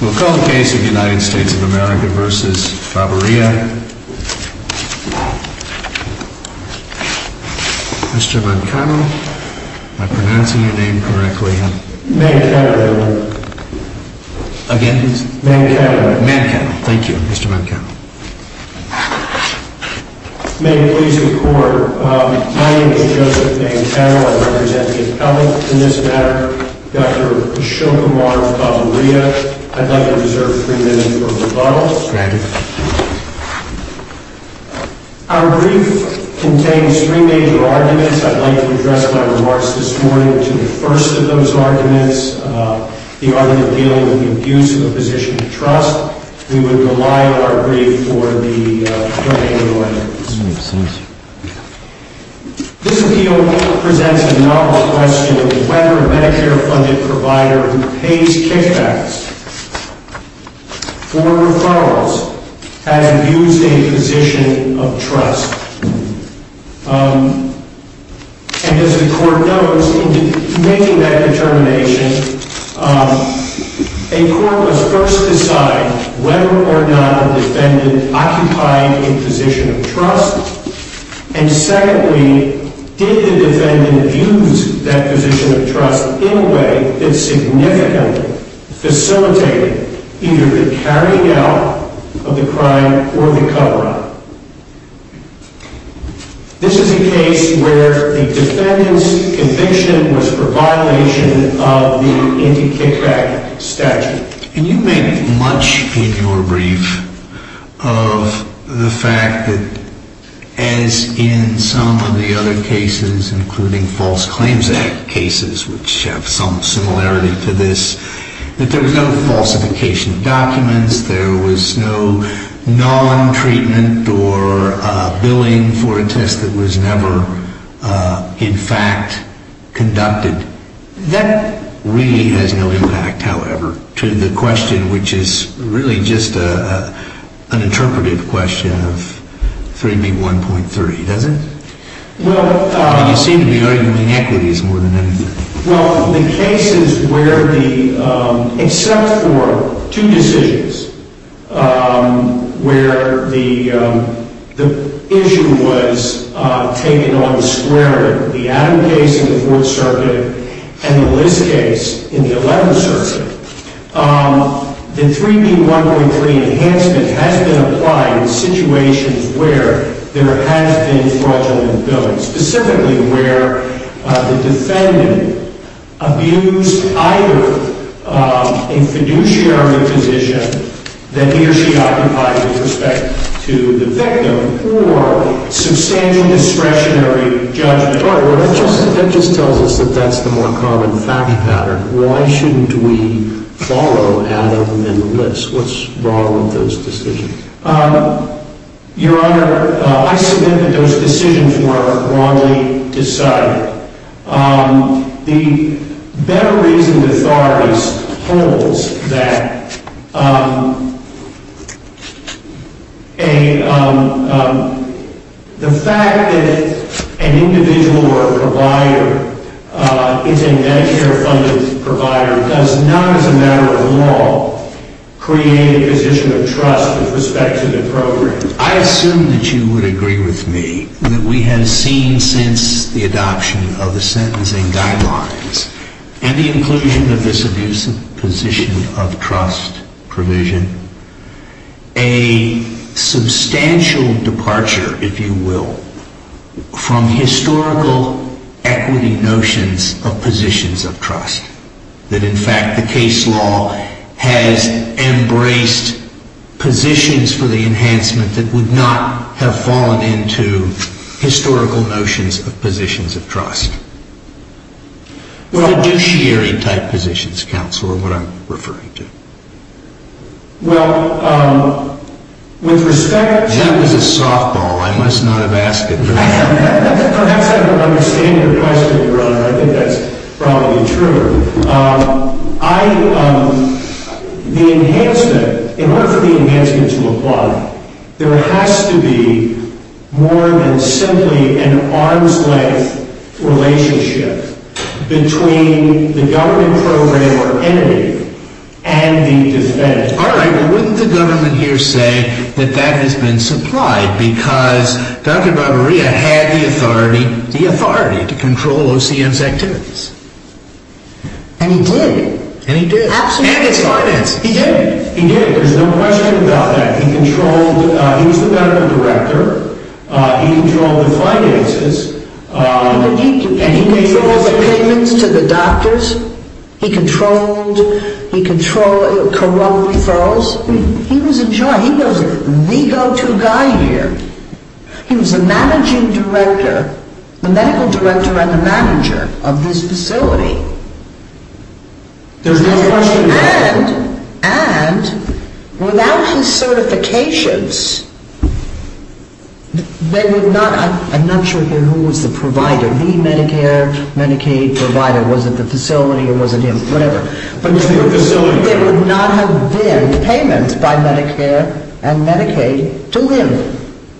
We'll call the case of the United States of America v. Babaria. Mr. Mancano, am I pronouncing your name correctly? Mancano, Your Honor. Again, please. Mancano. Mancano. Thank you, Mr. Mancano. May it please the Court. My name is Joseph Mancano. I represent the appellant in this matter, Dr. Ashok Amar of Babaria. I'd like to reserve three minutes for rebuttal. Our brief contains three major arguments. I'd like to address my remarks this morning to the first of those arguments, the argument dealing with the abuse of a position of trust. We would rely on our brief for the hearing of the witness. This appeal presents a novel question of whether a Medicare-funded provider who pays kickbacks for referrals has abused a position of trust. And as the Court knows, in making that determination, a court must first decide whether or not a defendant occupied a position of trust. And secondly, did the defendant abuse that position of trust in a way that significantly facilitated either the carrying out of the crime or the cover-up? This is a case where the defendant's conviction was for violation of the anti-kickback statute. And you make much in your brief of the fact that, as in some of the other cases, including False Claims Act cases, which have some similarity to this, that there was no falsification of documents, there was no non-treatment or billing for a test that was never in fact conducted. That really has no impact, however, to the question, which is really just an interpretive question of 3B1.3, does it? You seem to be arguing equities more than anything. Well, the cases where the, except for two decisions, where the issue was taken on the square, the Adam case in the Fourth Circuit and the Liz case in the Eleventh Circuit, the 3B1.3 enhancement has been applied in situations where there has been fraudulent billing, specifically where the defendant abused either a fiduciary position that he or she occupied with respect to the victim or substantial discretionary judgment. All right. Well, that just tells us that that's the more common fact pattern. Why shouldn't we follow Adam and Liz? What's wrong with those decisions? Your Honor, I submit that those decisions were wrongly decided. The better reason the authorities hold that the fact that an individual or a provider is a Medicare-funded provider does not, as a matter of law, create a position of trust with respect to the program. I assume that you would agree with me that we have seen since the adoption of the sentencing guidelines and the inclusion of this abusive position of trust provision a substantial departure, if you will, from historical equity notions of positions of trust, that, in fact, the case law has embraced positions for the enhancement that would not have fallen into historical notions of positions of trust. Fiduciary-type positions, counsel, are what I'm referring to. Well, with respect to... That was a softball. I must not have asked it. Perhaps I don't understand your question, Your Honor. I think that's probably true. The enhancement, in order for the enhancement to apply, there has to be more than simply an arm's-length relationship between the government program or entity and the defendant. All right. Well, wouldn't the government here say that that has been supplied because Dr. Barberia had the authority to control OCN's activities? And he did. And he did. Absolutely. And his finance. He did. He did. There's no question about that. He controlled... He was the medical director. He controlled the finances. He controlled the payments to the doctors. He controlled corrupt referrals. He was in charge. He was the go-to guy here. He was the managing director, the medical director and the manager of this facility. There's no question about that. And without his certifications, they would not... I'm not sure here who was the provider, the Medicare, Medicaid provider. Was it the facility or was it him? Whatever. It was the facility. They would not have been payments by Medicare and Medicaid to him,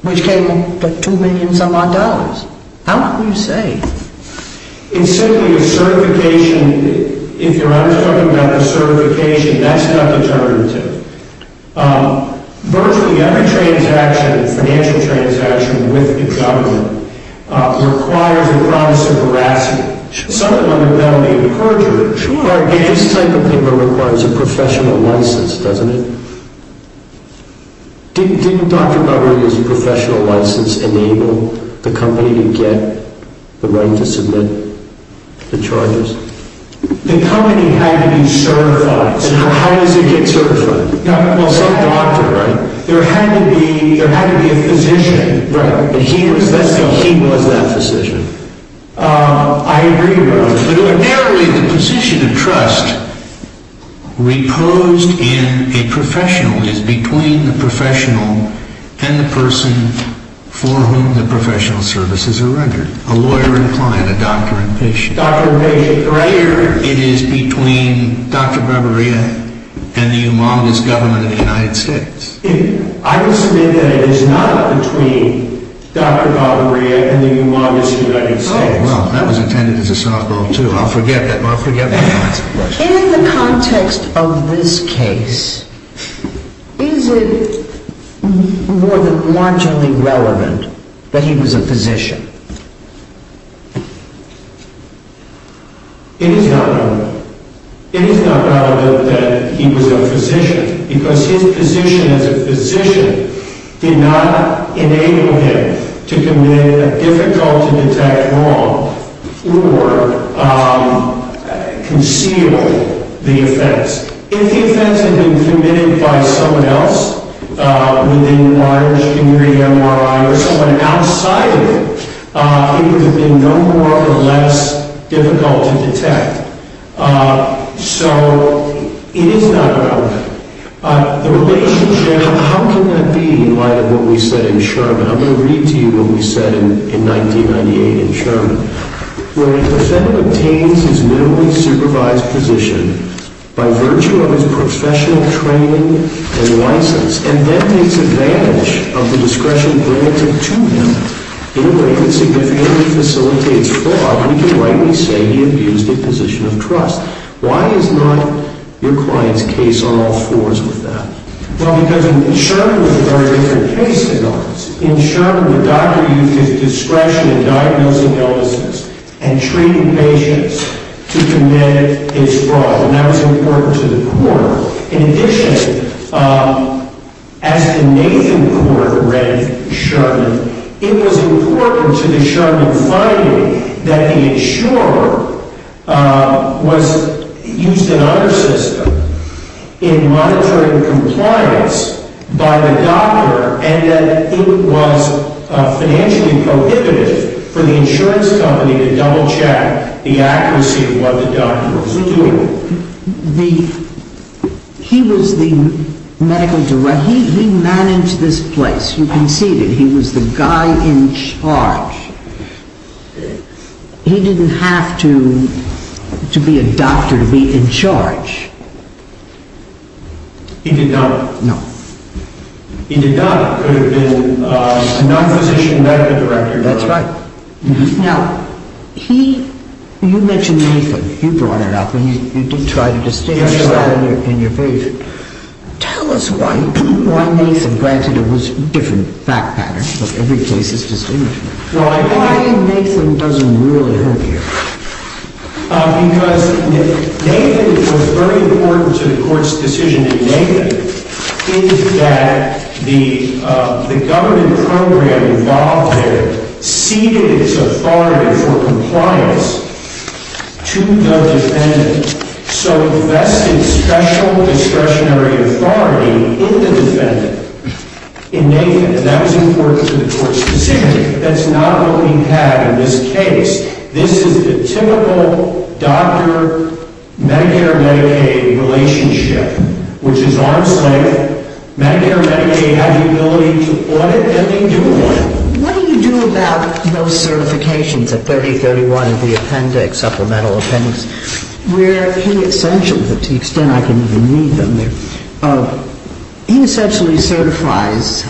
which came in for $2 million-some-odd. How can you say? It's simply a certification. If you're talking about a certification, that's not determinative. Virtually every transaction, financial transaction with the government, requires the promise of veracity. This type of paper requires a professional license, doesn't it? Didn't Dr. Barberi, as a professional license, enable the company to get the right to submit the charges? The company had to be certified. How does it get certified? Some doctor, right? There had to be a physician. He was that physician. I agree with that. But narrowly, the position of trust reposed in a professional is between the professional and the person for whom the professional services are rendered, a lawyer and client, a doctor and patient. A doctor and patient, right. Here, it is between Dr. Barberi and the humongous government of the United States. I will submit that it is not between Dr. Barberi and the humongous United States. Oh, well, that was intended as a softball, too. I'll forget that. I'll forget that. In the context of this case, is it more than marginally relevant that he was a physician? It is not relevant. It is not relevant that he was a physician because his position as a physician did not enable him to commit a difficult-to-detect wrong or conceal the offense. If the offense had been committed by someone else within large degree MRI or someone outside of it, it would have been no more or less difficult to detect. So, it is not relevant. The relationship, how can that be in light of what we said in Sherman? I'm going to read to you what we said in 1998 in Sherman. Where the defendant obtains his minimally supervised position by virtue of his professional training and license and then takes advantage of the discretion granted to him in a way that significantly facilitates fraud, we can rightly say he abused a position of trust. Why is not your client's case on all fours with that? Well, because in Sherman, it was a very different case than ours. In Sherman, the doctor used his discretion in diagnosing illnesses and treating patients to commit his fraud. And that was important to the court. In addition, as the Nathan court read Sherman, it was important to the Sherman finding that the insurer used another system in monitoring compliance by the doctor and that it was financially prohibitive for the insurance company to double check the accuracy of what the doctor was doing. He was the medical director. He managed this place. You can see that he was the guy in charge. He didn't have to be a doctor to be in charge. He did not. No. He did not. He could have been a non-physician medical director. That's right. Now, you mentioned Nathan. You brought it up and you did try to distinguish that in your case. Tell us why Nathan. Granted, it was a different fact pattern, but every case is distinguishable. Why Nathan doesn't really help here. Because Nathan was very important to the court's decision in Nathan in that the government program involved there ceded its authority for compliance to the defendant. So it vested special discretionary authority in the defendant in Nathan. And that was important to the court specifically. But that's not what we have in this case. This is the typical doctor-Medicare-Medicaid relationship, which is arm's length. Medicare-Medicaid had the ability to audit everything doing what? What do you do about those certifications at 3031, the appendix, supplemental appendix? Where he essentially, to the extent I can even read them, he essentially certifies,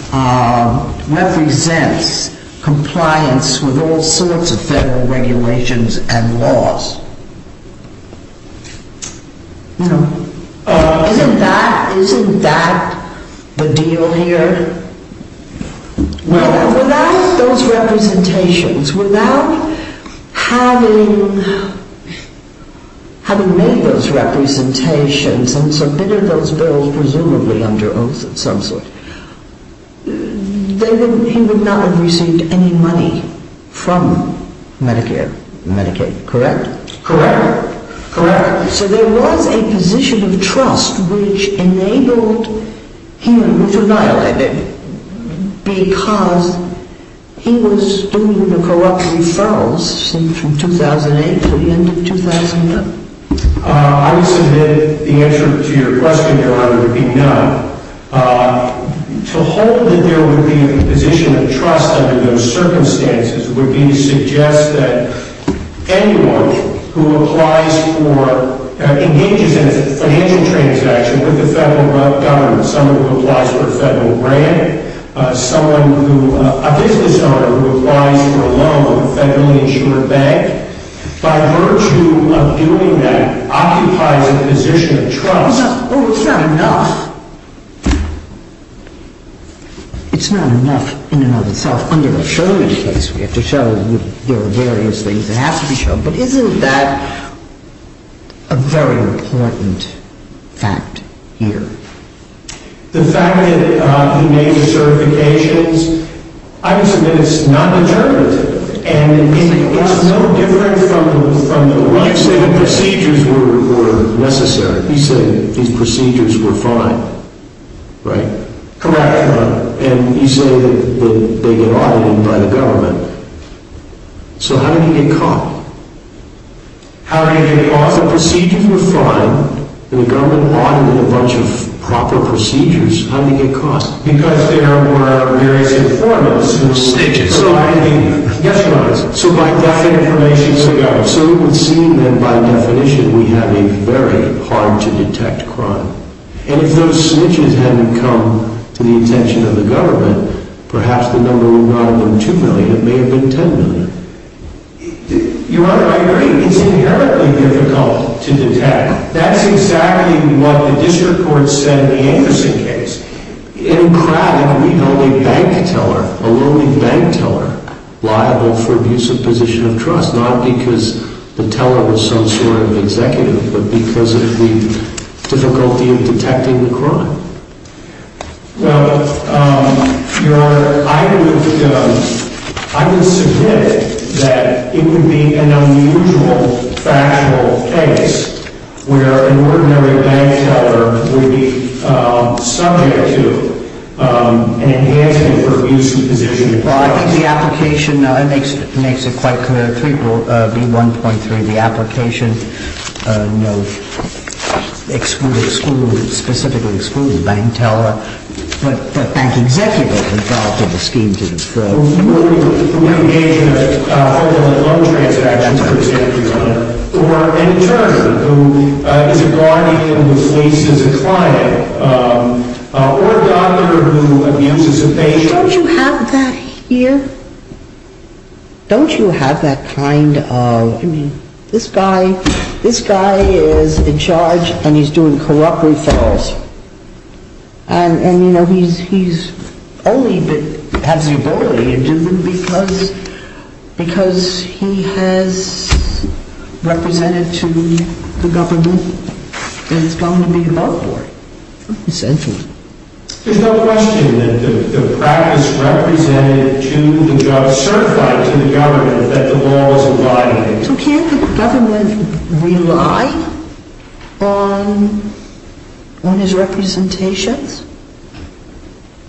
represents compliance with all sorts of federal regulations and laws. Isn't that the deal here? Without those representations, without having made those representations and submitted those bills presumably under oath of some sort, he would not have received any money from Medicare-Medicaid, correct? Correct. So there was a position of trust which enabled him, which annihilated him, because he was doing the corrupt referrals from 2008 to the end of 2007. I would submit the answer to your question, Your Honor, would be no. To hold that there would be a position of trust under those circumstances would be to suggest that anyone who applies for, engages in a financial transaction with the federal government, someone who applies for a federal grant, a business owner who applies for a loan from a federally insured bank, by virtue of doing that occupies a position of trust. Oh, it's not enough. It's not enough in and of itself. Under the Sherman case, we have to show there are various things that have to be shown. But isn't that a very important fact here? The fact that he made the certifications, I would submit it's not determinative. And it's no different from the way the procedures were necessary. You say these procedures were fine, right? Correct, Your Honor. And you say that they get audited by the government. So how did he get caught? How did he get caught? The procedures were fine. The government audited a bunch of proper procedures. How did he get caught? Because there were various informants who staged it. Yes, Your Honor. So it would seem that by definition we have a very hard-to-detect crime. And if those snitches hadn't come to the attention of the government, perhaps the number would not have been 2 million. It may have been 10 million. Your Honor, I agree. It's inherently difficult to detect. That's exactly what the district court said in the Anderson case. In Crabb, we held a bank teller, a lonely bank teller, liable for abuse of position of trust, not because the teller was some sort of executive, but because of the difficulty of detecting the crime. Well, Your Honor, I would submit that it would be an unusual factual case where an ordinary bank teller would be subject to an enhancement for abuse of position of trust. Well, I think the application makes it quite clear. 3.1.3, the application, you know, excluded, specifically excluded the bank teller, but bank executives involved in the scheme did not. ...who engage in a horrible and low-transparency procedure, Your Honor, or an intern who is a guardian who fleeces a client, or a doctor who abuses a patient. Don't you have that here? Don't you have that kind of, I mean, this guy, this guy is in charge and he's doing corrupt referrals. And, you know, he's only has the ability to do it because he has represented to the government that it's going to be above board, essentially. There's no question that the practice represented to the judge, certified to the government that the law is abiding. So can't the government rely on his representations?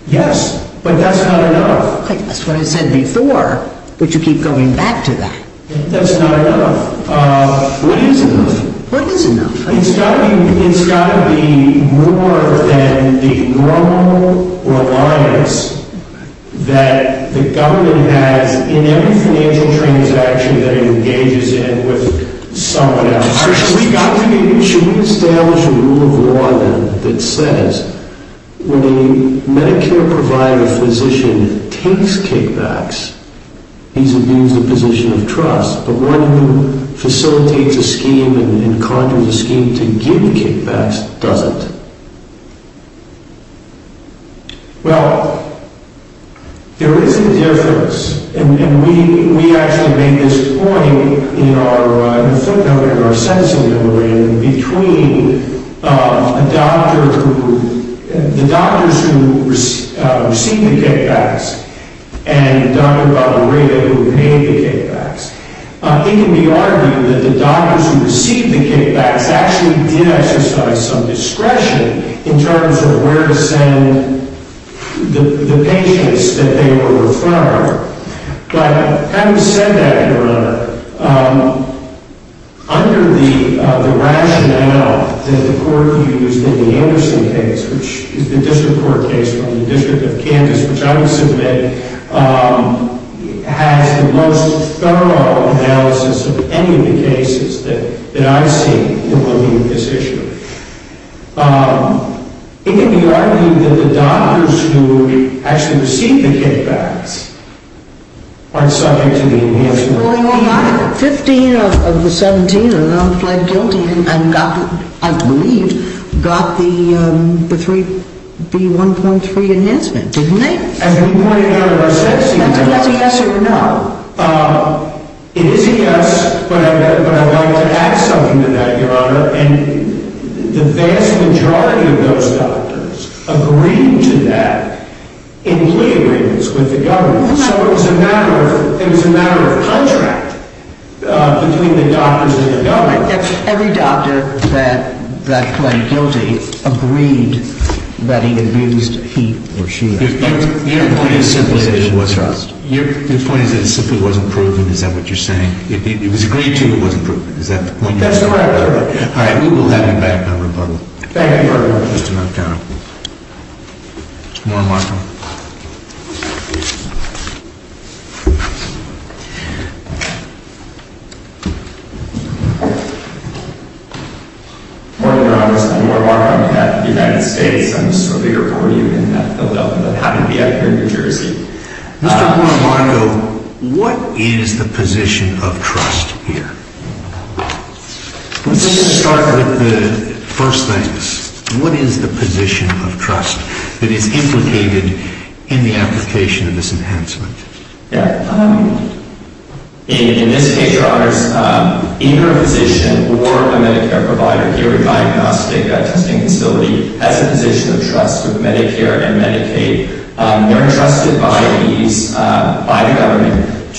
Yes, but that's not enough. That's what I said before, but you keep going back to that. That's not enough. What is enough? What is enough? It's got to be more than the normal reliance that the government has in every financial transaction that it engages in with someone else. Should we establish a rule of law that says when a Medicare provider physician takes kickbacks, but one who facilitates a scheme and conjures a scheme to give kickbacks doesn't? Well, there is a difference, and we actually made this point in our sentencing memorandum, between the doctors who received the kickbacks and Dr. Valerie who paid the kickbacks. It can be argued that the doctors who received the kickbacks actually did exercise some discretion in terms of where to send the patients that they were referring. But having said that, Your Honor, under the rationale that the court used in the Anderson case, which is the district court case from the District of Kansas, which I will submit, has the most thorough analysis of any of the cases that I've seen involving this issue. It can be argued that the doctors who actually received the kickbacks aren't subject to the enhancement. Well, the 15 of the 17 who then fled guilty and got, I believe, got the B1.3 enhancement, didn't they? As we pointed out in our sentencing memorandum, it isn't yes, but I'd like to add something to that, Your Honor. And the vast majority of those doctors agreed to that in plea agreements with the government. So it was a matter of contract between the doctors and the government. Every doctor that fled guilty agreed that he abused he or she. Your point is that it simply wasn't proven. Is that what you're saying? It was agreed to, it wasn't proven. Is that the point you're making? That's correct, Your Honor. All right, we will have you back on rebuttal. Thank you, Your Honor. Just a moment, Your Honor. Mr. Moore-Marco. Good morning, Your Honor. I'm Moore-Marco. I'm from the United States. I'm a surveyor for you in Philadelphia, but happy to be out here in New Jersey. Mr. Moore-Marco, what is the position of trust here? Let's start with the first thing. What is the position of trust that is implicated in the application of this enhancement? In this case, Your Honors, either a physician or a Medicare provider here in my diagnostic testing facility has a position of trust with Medicare and Medicaid. They're entrusted by the government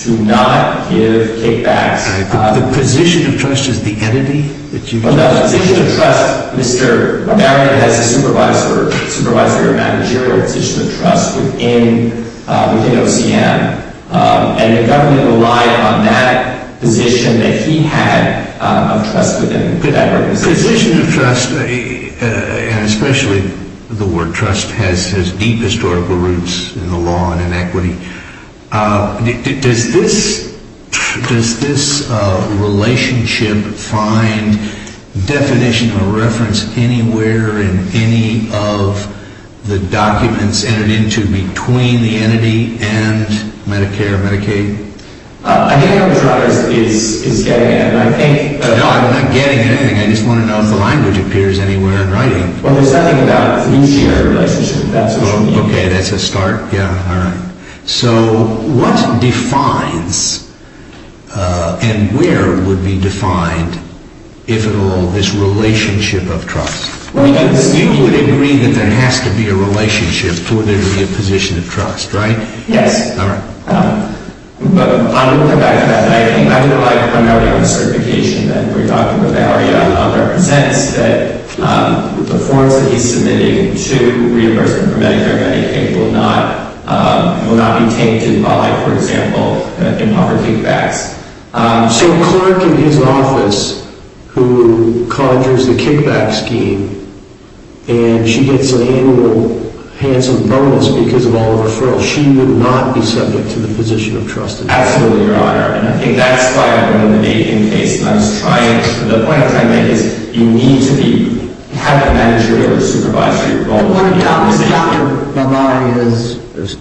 to not give kickbacks. The position of trust is the entity? The position of trust, Mr. Marion has a supervisor or managerial position of trust within OCM. And the government relied on that position that he had of trust within Medicare. The position of trust, and especially the word trust, has deep historical roots in the law and in equity. Does this relationship find definition or reference anywhere in any of the documents entered into between the entity and Medicare or Medicaid? I think what I'm trying to say is getting at it. No, I'm not getting at anything. I just want to know if the language appears anywhere in writing. Well, there's nothing about you sharing a relationship with that social media. Okay, that's a start. Yeah, all right. So, what defines and where would be defined, if at all, this relationship of trust? Well, you would agree that there has to be a relationship for there to be a position of trust, right? Yes. All right. But I'm looking back at that, and I do like primarily the certification that we're talking about. It represents that the forms that he's submitting to reimbursement for Medicare and Medicaid will not be tainted by, for example, the improper kickbacks. So a clerk in his office who conjures the kickback scheme, and she gets an annual handsome bonus because of all the referrals, she would not be subject to the position of trust at all. Absolutely, Your Honor. And I think that's why I wanted to make the case, and I was trying to. The point I made is you need to have a managerial or supervisory role in the organization. Dr. Bavaria's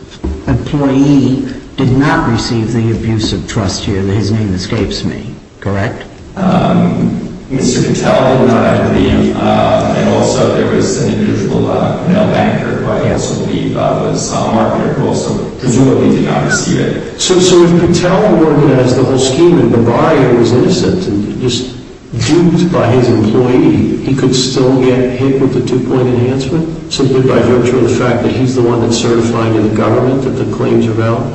employee did not receive the abuse of trust here. His name escapes me, correct? Mr. Patel did not agree, and also there was an individual, a male banker, who I also believe was a marketer who also presumably did not receive it. So if Patel organized the whole scheme and Bavaria was innocent and just duped by his employee, he could still get hit with the two-point enhancement? Simply by virtue of the fact that he's the one that certified in the government that the claims are valid?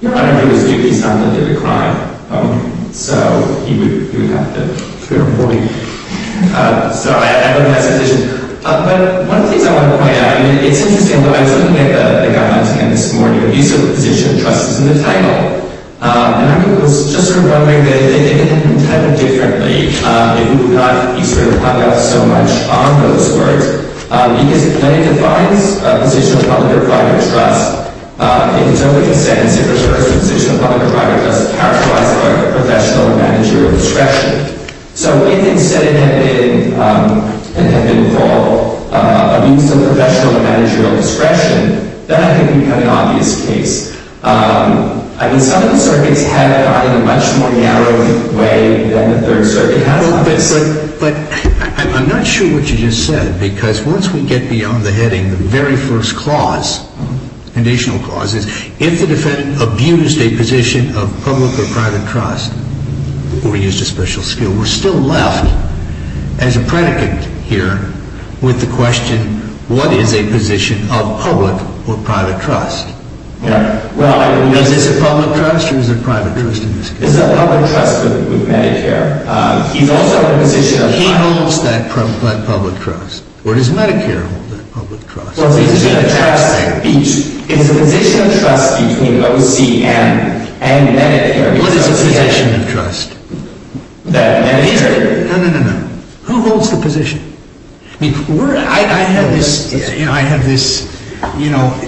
Your Honor, he was duped. He's not guilty of a crime. So he would have to appear before me. So I would have to audition. But one of the things I want to point out, I mean, it's interesting. When I was looking at the guidelines again this morning, the use of the position of trust is in the title, and I was just sort of wondering if they did it entirely differently, if you would not be sort of hung up so much on those words, because the claim defines a position of public or private trust. If in some way it stands, it refers to a position of public or private trust characterized by professional or managerial discretion. So if instead it had been for a use of professional or managerial discretion, then I think it would become an obvious case. I mean, some of the circuits have it in a much more narrow way than the Third Circuit has on this. But I'm not sure what you just said, because once we get beyond the heading, the very first clause, conditional clause, is if the defendant abused a position of public or private trust or used a special skill, we're still left as a predicate here with the question, what is a position of public or private trust? Is this a public trust or is it private trust in this case? This is a public trust with Medicare. He's also in a position of private trust. He holds that public trust. Or does Medicare hold that public trust? It's a position of trust between OCM and Medicare. What is a position of trust? Medicare. No, no, no, no. Who holds the position? I mean, I have this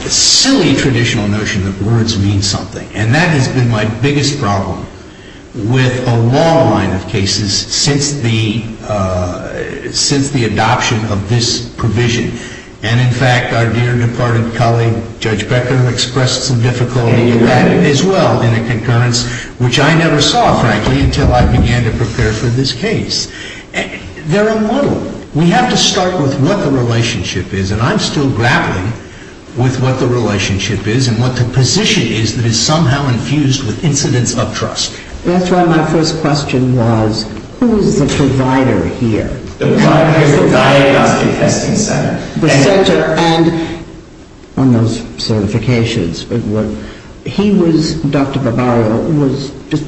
silly traditional notion that words mean something, and that has been my biggest problem with a long line of cases since the adoption of this provision. And, in fact, our dear departed colleague, Judge Becker, expressed some difficulty in that as well in a concurrence, which I never saw, frankly, until I began to prepare for this case. They're a muddle. We have to start with what the relationship is, and I'm still grappling with what the relationship is and what the position is that is somehow infused with incidents of trust. That's why my first question was, who is the provider here? The provider is the Diagnostic Testing Center. The center, and on those certifications, he was, Dr. Barbaro, was just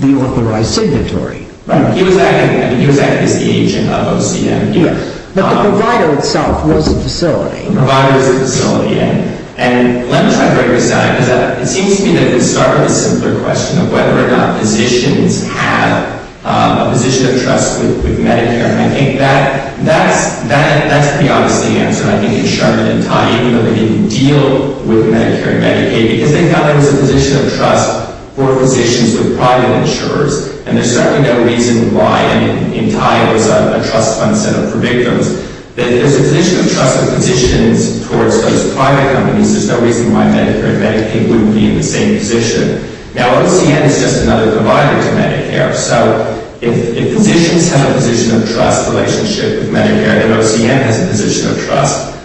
the authorized signatory. Right. He was acting as the agent of OCM. Yes. But the provider itself was a facility. The provider is a facility, yes. And let me try to break this down. It seems to me that it started with a simpler question of whether or not physicians have a position of trust with Medicare. And I think that's the obvious answer. I think the insurer in Thai, even though they didn't deal with Medicare and Medicaid, because they felt there was a position of trust for physicians with private insurers, and there's certainly no reason why, I mean, in Thai it was a trust fund set up for victims, that there's a position of trust for physicians towards those private companies. There's no reason why Medicare and Medicaid wouldn't be in the same position. Now, OCM is just another provider to Medicare. So if physicians have a position of trust relationship with Medicare, then OCM has a position of trust.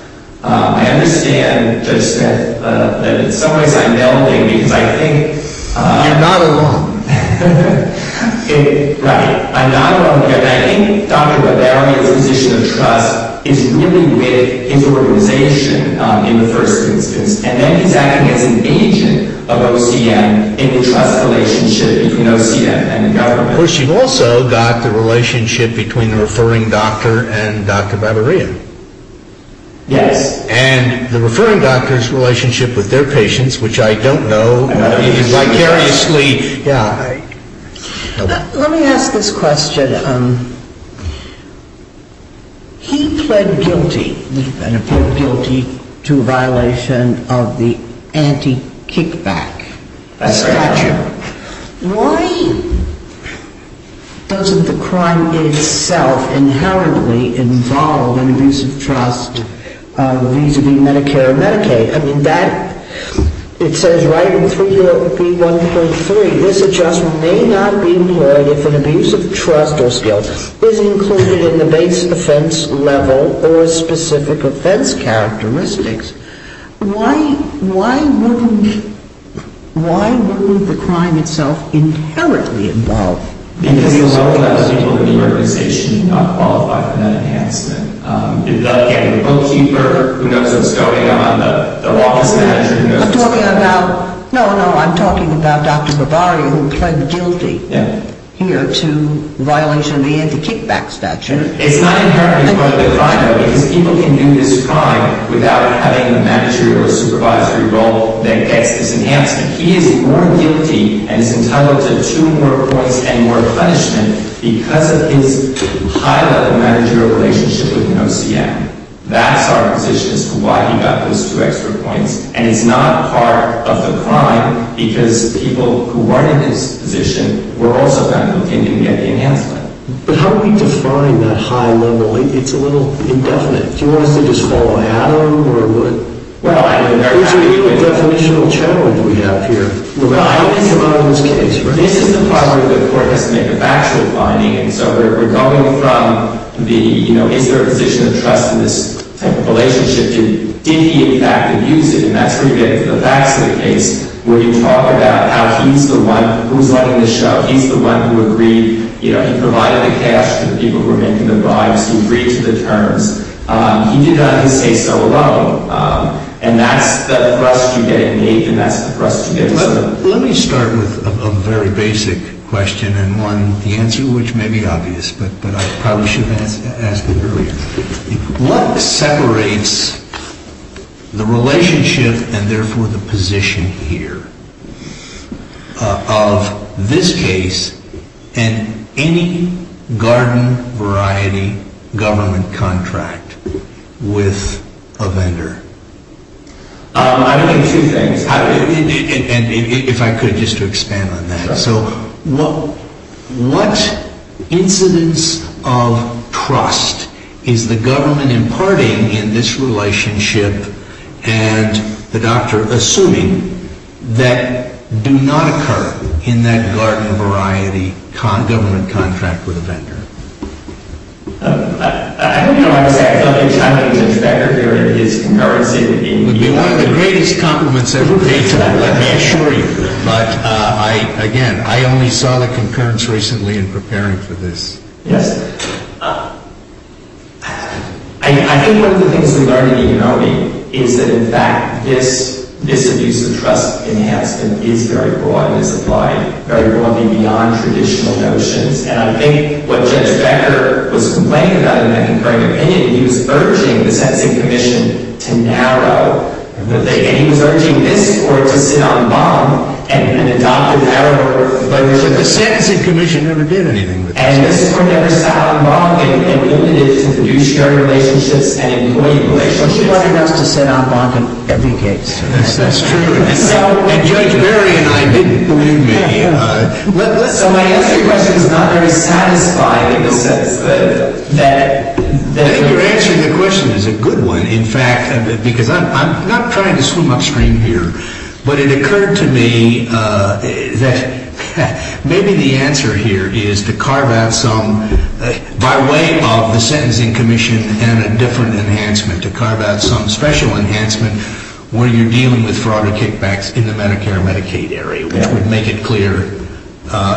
I understand, Judge Smith, that in some ways I'm melding, because I think— You're not alone. Right. I'm not alone here. And I think Dr. Bavaria's position of trust is really with his organization in the first instance. And then he's acting as an agent of OCM in the trust relationship between OCM and the government. Of course, you've also got the relationship between the referring doctor and Dr. Bavaria. Yes. And the referring doctor's relationship with their patients, which I don't know, vicariously— Let me ask this question. He pled guilty to a violation of the anti-kickback statute. Why doesn't the crime itself inherently involve an abuse of trust vis-à-vis Medicare and Medicaid? I mean, that—it says right in 3B1.3, this adjustment may not be employed if an abuse of trust or skill is included in the base offense level or specific offense characteristics. Why wouldn't the crime itself inherently involve— Because the low-level people in the organization do not qualify for that enhancement. The bookkeeper who knows what's going on, the office manager who knows what's going on— I'm talking about—no, no, I'm talking about Dr. Bavaria, who pled guilty here to violation of the anti-kickback statute. It's not inherently going to define him, because people can do this crime without having the managerial or supervisory role that gets this enhancement. He is more guilty and is entitled to two more points and more punishment because of his high-level managerial relationship with an OCM. That's our position as to why he got those two extra points. And it's not part of the crime, because people who weren't in his position were also found guilty and didn't get the enhancement. But how do we define that high level? It's a little indefinite. Do you want us to just follow Adam or what? Well, I don't know— It's a really definitional challenge we have here. Well, I don't think about it in this case. This is the part where the court has to make a factual finding. And so we're going from the, you know, is there a position of trust in this type of relationship? Did he, in fact, abuse it? And that's where you get into the facts of the case, where you talk about how he's the one who's letting this show. He's the one who agreed. You know, he provided the cash to the people who were making the bribes. He agreed to the terms. He did not, in this case, sell a loan. And that's the thrust you get at Nathan. That's the thrust you get at Sotomayor. Let me start with a very basic question and one with the answer, which may be obvious, but I probably should have asked it earlier. What separates the relationship and, therefore, the position here of this case and any garden-variety government contract with a vendor? I mean, two things. If I could, just to expand on that. So what incidence of trust is the government imparting in this relationship, and the doctor assuming, that do not occur in that garden-variety government contract with a vendor? I don't know how to say it. I mean, I'm not an inspector here. And his comparison would be one of the greatest compliments ever made to me, let me assure you. But, again, I only saw the concurrence recently in preparing for this. Yes, sir. I think one of the things we learned in Igonomi is that, in fact, this abuse of trust enhancement is very broad and is applied very broadly beyond traditional notions. And I think what Judge Becker was complaining about in that concurring opinion, he was urging the sentencing commission to narrow the thing. And he was urging this Court to sit on bond and adopt a narrower relationship. But the sentencing commission never did anything with this. And this Court never sat on bond and limited it to the new shared relationships and employee relationships. So she wanted us to sit on bond in every case. That's true. And Judge Berry and I didn't, believe me. So my answer to your question is not very satisfying in the sense that… I think your answer to the question is a good one, in fact, because I'm not trying to swim upstream here. But it occurred to me that maybe the answer here is to carve out some, by way of the sentencing commission and a different enhancement, to carve out some special enhancement where you're dealing with fraud or kickbacks in the Medicare and Medicaid area, which would make it clear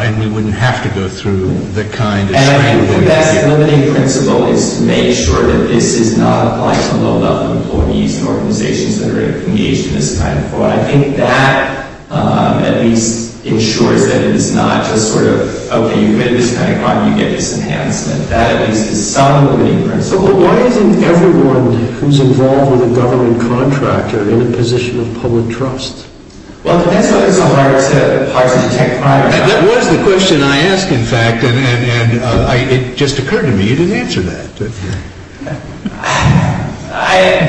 and we wouldn't have to go through the kind of training… I think the best limiting principle is to make sure that this is not applied to low-level employees and organizations that are engaged in this kind of fraud. I think that at least ensures that it is not just sort of, okay, you've made this kind of crime, you get this enhancement. That at least is some limiting principle. But why isn't everyone who's involved with a government contract or in a position of public trust? Well, that's why it's so hard to… That was the question I asked, in fact, and it just occurred to me you didn't answer that.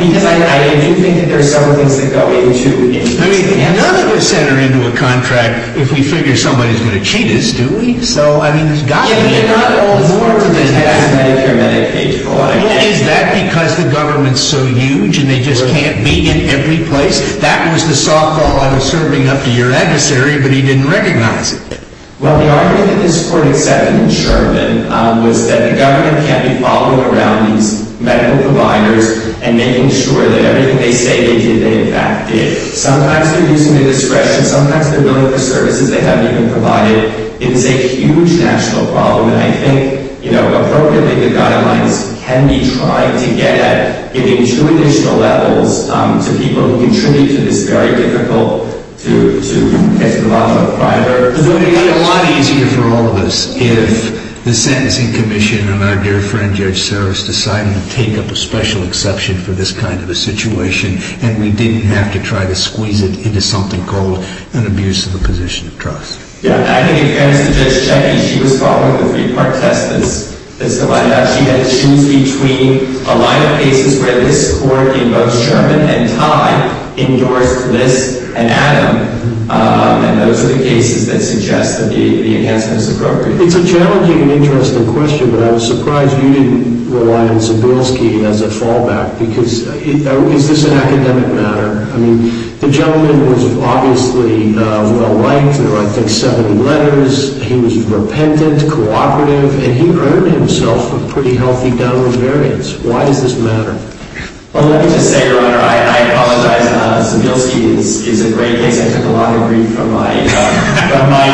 Because I do think that there are several things that go into… I mean, none of us enter into a contract if we figure somebody's going to cheat us, do we? So, I mean, you've got to be… Yeah, you're not all absorbed in this Medicare and Medicaid fraud. Well, is that because the government's so huge and they just can't be in every place? That was the softball I was serving up to your adversary, but he didn't recognize it. Well, the argument in this court, except in Sherman, was that the government can't be following around these medical providers and making sure that everything they say they did, they in fact did. Sometimes they're using their discretion, sometimes they're billing for services they haven't even provided. It is a huge national problem, and I think, you know, appropriately, the guidelines can be tried to get at, giving two additional levels to people who contribute to this very difficult to get to the bottom of a provider. It would have been a lot easier for all of us if the sentencing commission and our dear friend Judge Saros decided to take up a special exception for this kind of a situation and we didn't have to try to squeeze it into something called an abuse of a position of trust. Yeah, and I think in fairness to Judge Cheney, she was following the three-part test that's provided. She had to choose between a line of cases where this court, in both Sherman and Tye, endorsed Liss and Adam, and those are the cases that suggest that the enhancement is appropriate. It's a challenging and interesting question, but I was surprised you didn't rely on Sebelski as a fallback, because is this an academic matter? I mean, the gentleman was obviously well-liked. There were, I think, seven letters. He was repentant, cooperative, and he earned himself a pretty healthy downward variance. Why does this matter? Well, let me just say, Your Honor, I apologize. Sebelski is a great case. I took a lot of grief from my companion, from my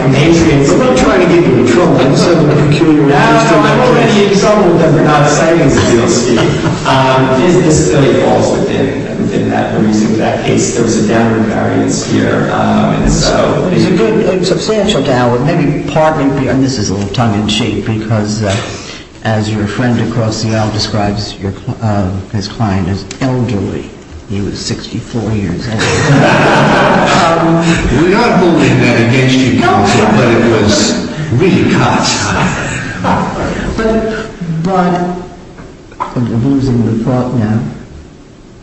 compatriot. We're not trying to give you any trouble. I'm just having a peculiar relationship with him. I don't have any example that we're not citing Sebelski. This really falls within that reason. In that case, there was a downward variance here. There's a good substantial downward, maybe partly. This is a little tongue-in-cheek, because as your friend across the aisle describes his client as elderly. He was 64 years old. We're not holding that against you, counsel, but it was really caught. But I'm losing the plot now.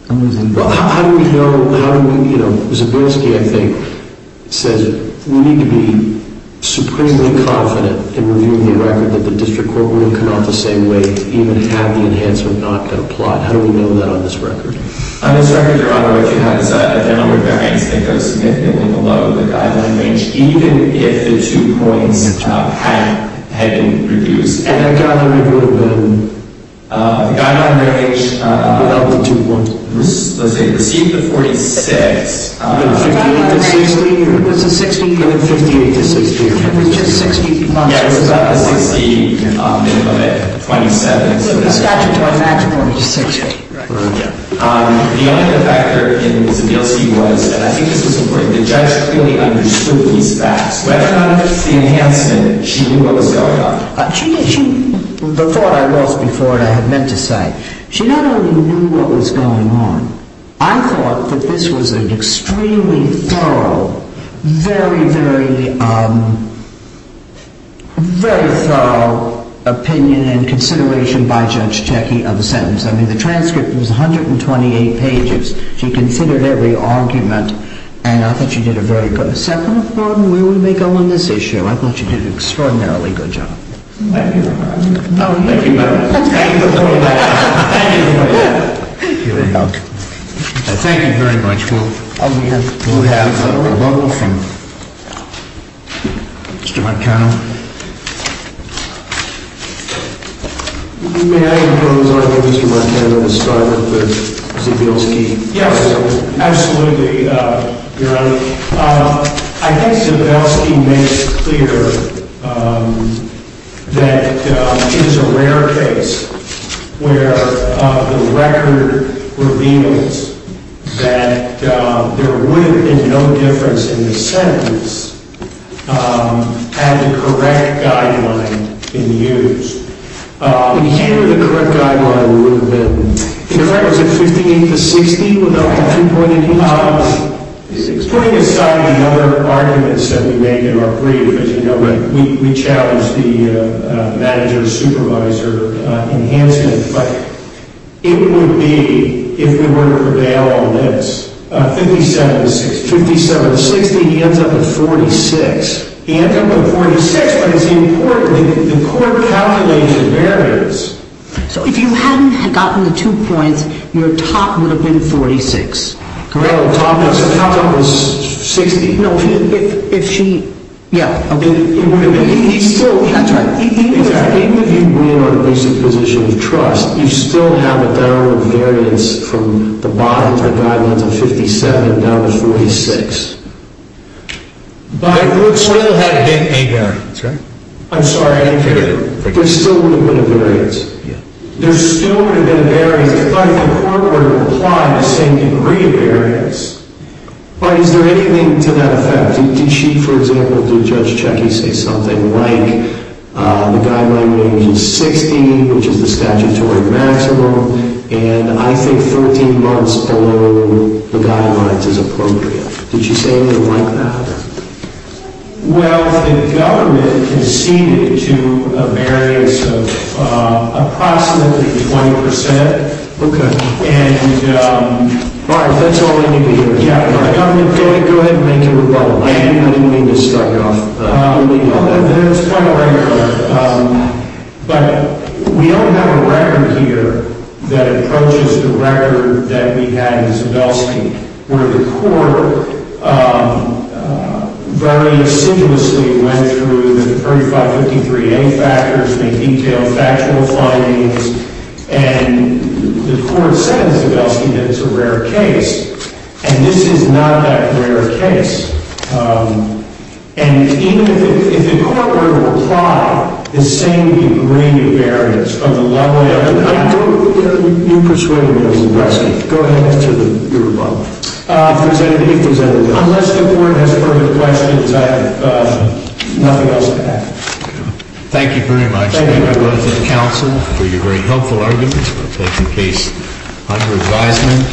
I'm losing the plot. Well, how do we know? Sebelski, I think, says we need to be supremely confident in reviewing the record that the district court rule cannot the same way even have the enhancement not be a plot. How do we know that on this record? On this record, your Honor, what you have is a downward variance that goes significantly below the guideline range, even if the two points had been reduced. And that guideline would have been? The guideline range. Without the two points. Let's see. Receive the 46. 58 to 60. It was a 60. 58 to 60. It was just 60 plus. Yeah, it was about a 60 minimum at 27. The only other factor in Sebelski was, and I think this was important, the judge clearly understood these facts. Whether or not it was the enhancement, she knew what was going on. The thought I lost before and I had meant to say, she not only knew what was going on, I thought that this was an extremely thorough, very, very, very thorough opinion and consideration by Judge Checki of the sentence. I mean, the transcript was 128 pages. She considered every argument and I thought she did a very good job. Second of all, where would we go on this issue? I thought she did an extraordinarily good job. Thank you, Your Honor. Thank you. Thank you. Thank you. Thank you. Thank you. Thank you. Thank you very much. We'll have a rebuttal from Mr. Marcano. May I rephrase what Mr. Marcano described as Sebelski? Yes, absolutely, Your Honor. I think Sebelski makes clear that it is a rare case where the record reveals that there would have been no difference in the sentence had the correct guideline been used. Here, the correct guideline would have been? In fact, was it 58 to 60? Putting aside the other arguments that we made in our brief, as you know, we challenged the manager-supervisor enhancement, but it would be, if we were to prevail on this, 57 to 60. He ends up with 46. He ends up with 46, but it's important that the court calculates the variance. So if you hadn't gotten the two points, your top would have been 46. No, the top would have been 60. No, if she, yeah, okay. That's right. Even if you win on the basic position of trust, you still have a downward variance from the bottom of the guidelines of 57 down to 46. But it would still have been a variance. That's right. I'm sorry, I didn't hear you. There still would have been a variance. Yeah. There still would have been a variance if the court were to apply the same degree of variance. But is there anything to that effect? Did she, for example, did Judge Checky say something like the guideline range is 60, which is the statutory maximum, and I think 13 months below the guidelines is appropriate? Did she say anything like that? Well, the government conceded to a variance of approximately 20%. Okay. And, Mark, that's all I need to hear. Go ahead and make your rebuttal. I didn't mean to start you off. There's quite a way to go. But we don't have a record here that approaches the record that we had in Zabelski where the court very assiduously went through the 3553A factors, made detailed factual findings, and the court said in Zabelski that it's a rare case. And this is not that rare a case. And even if the court were to apply the same degree of variance, from the level of the fact... You persuaded me of Zabelski. Go ahead and make your rebuttal. If there's anything else. Unless the Court has further questions, I have nothing else to add. Thank you very much. Thank you. I'd like to thank counsel for your very helpful arguments. We'll take the case under advisement.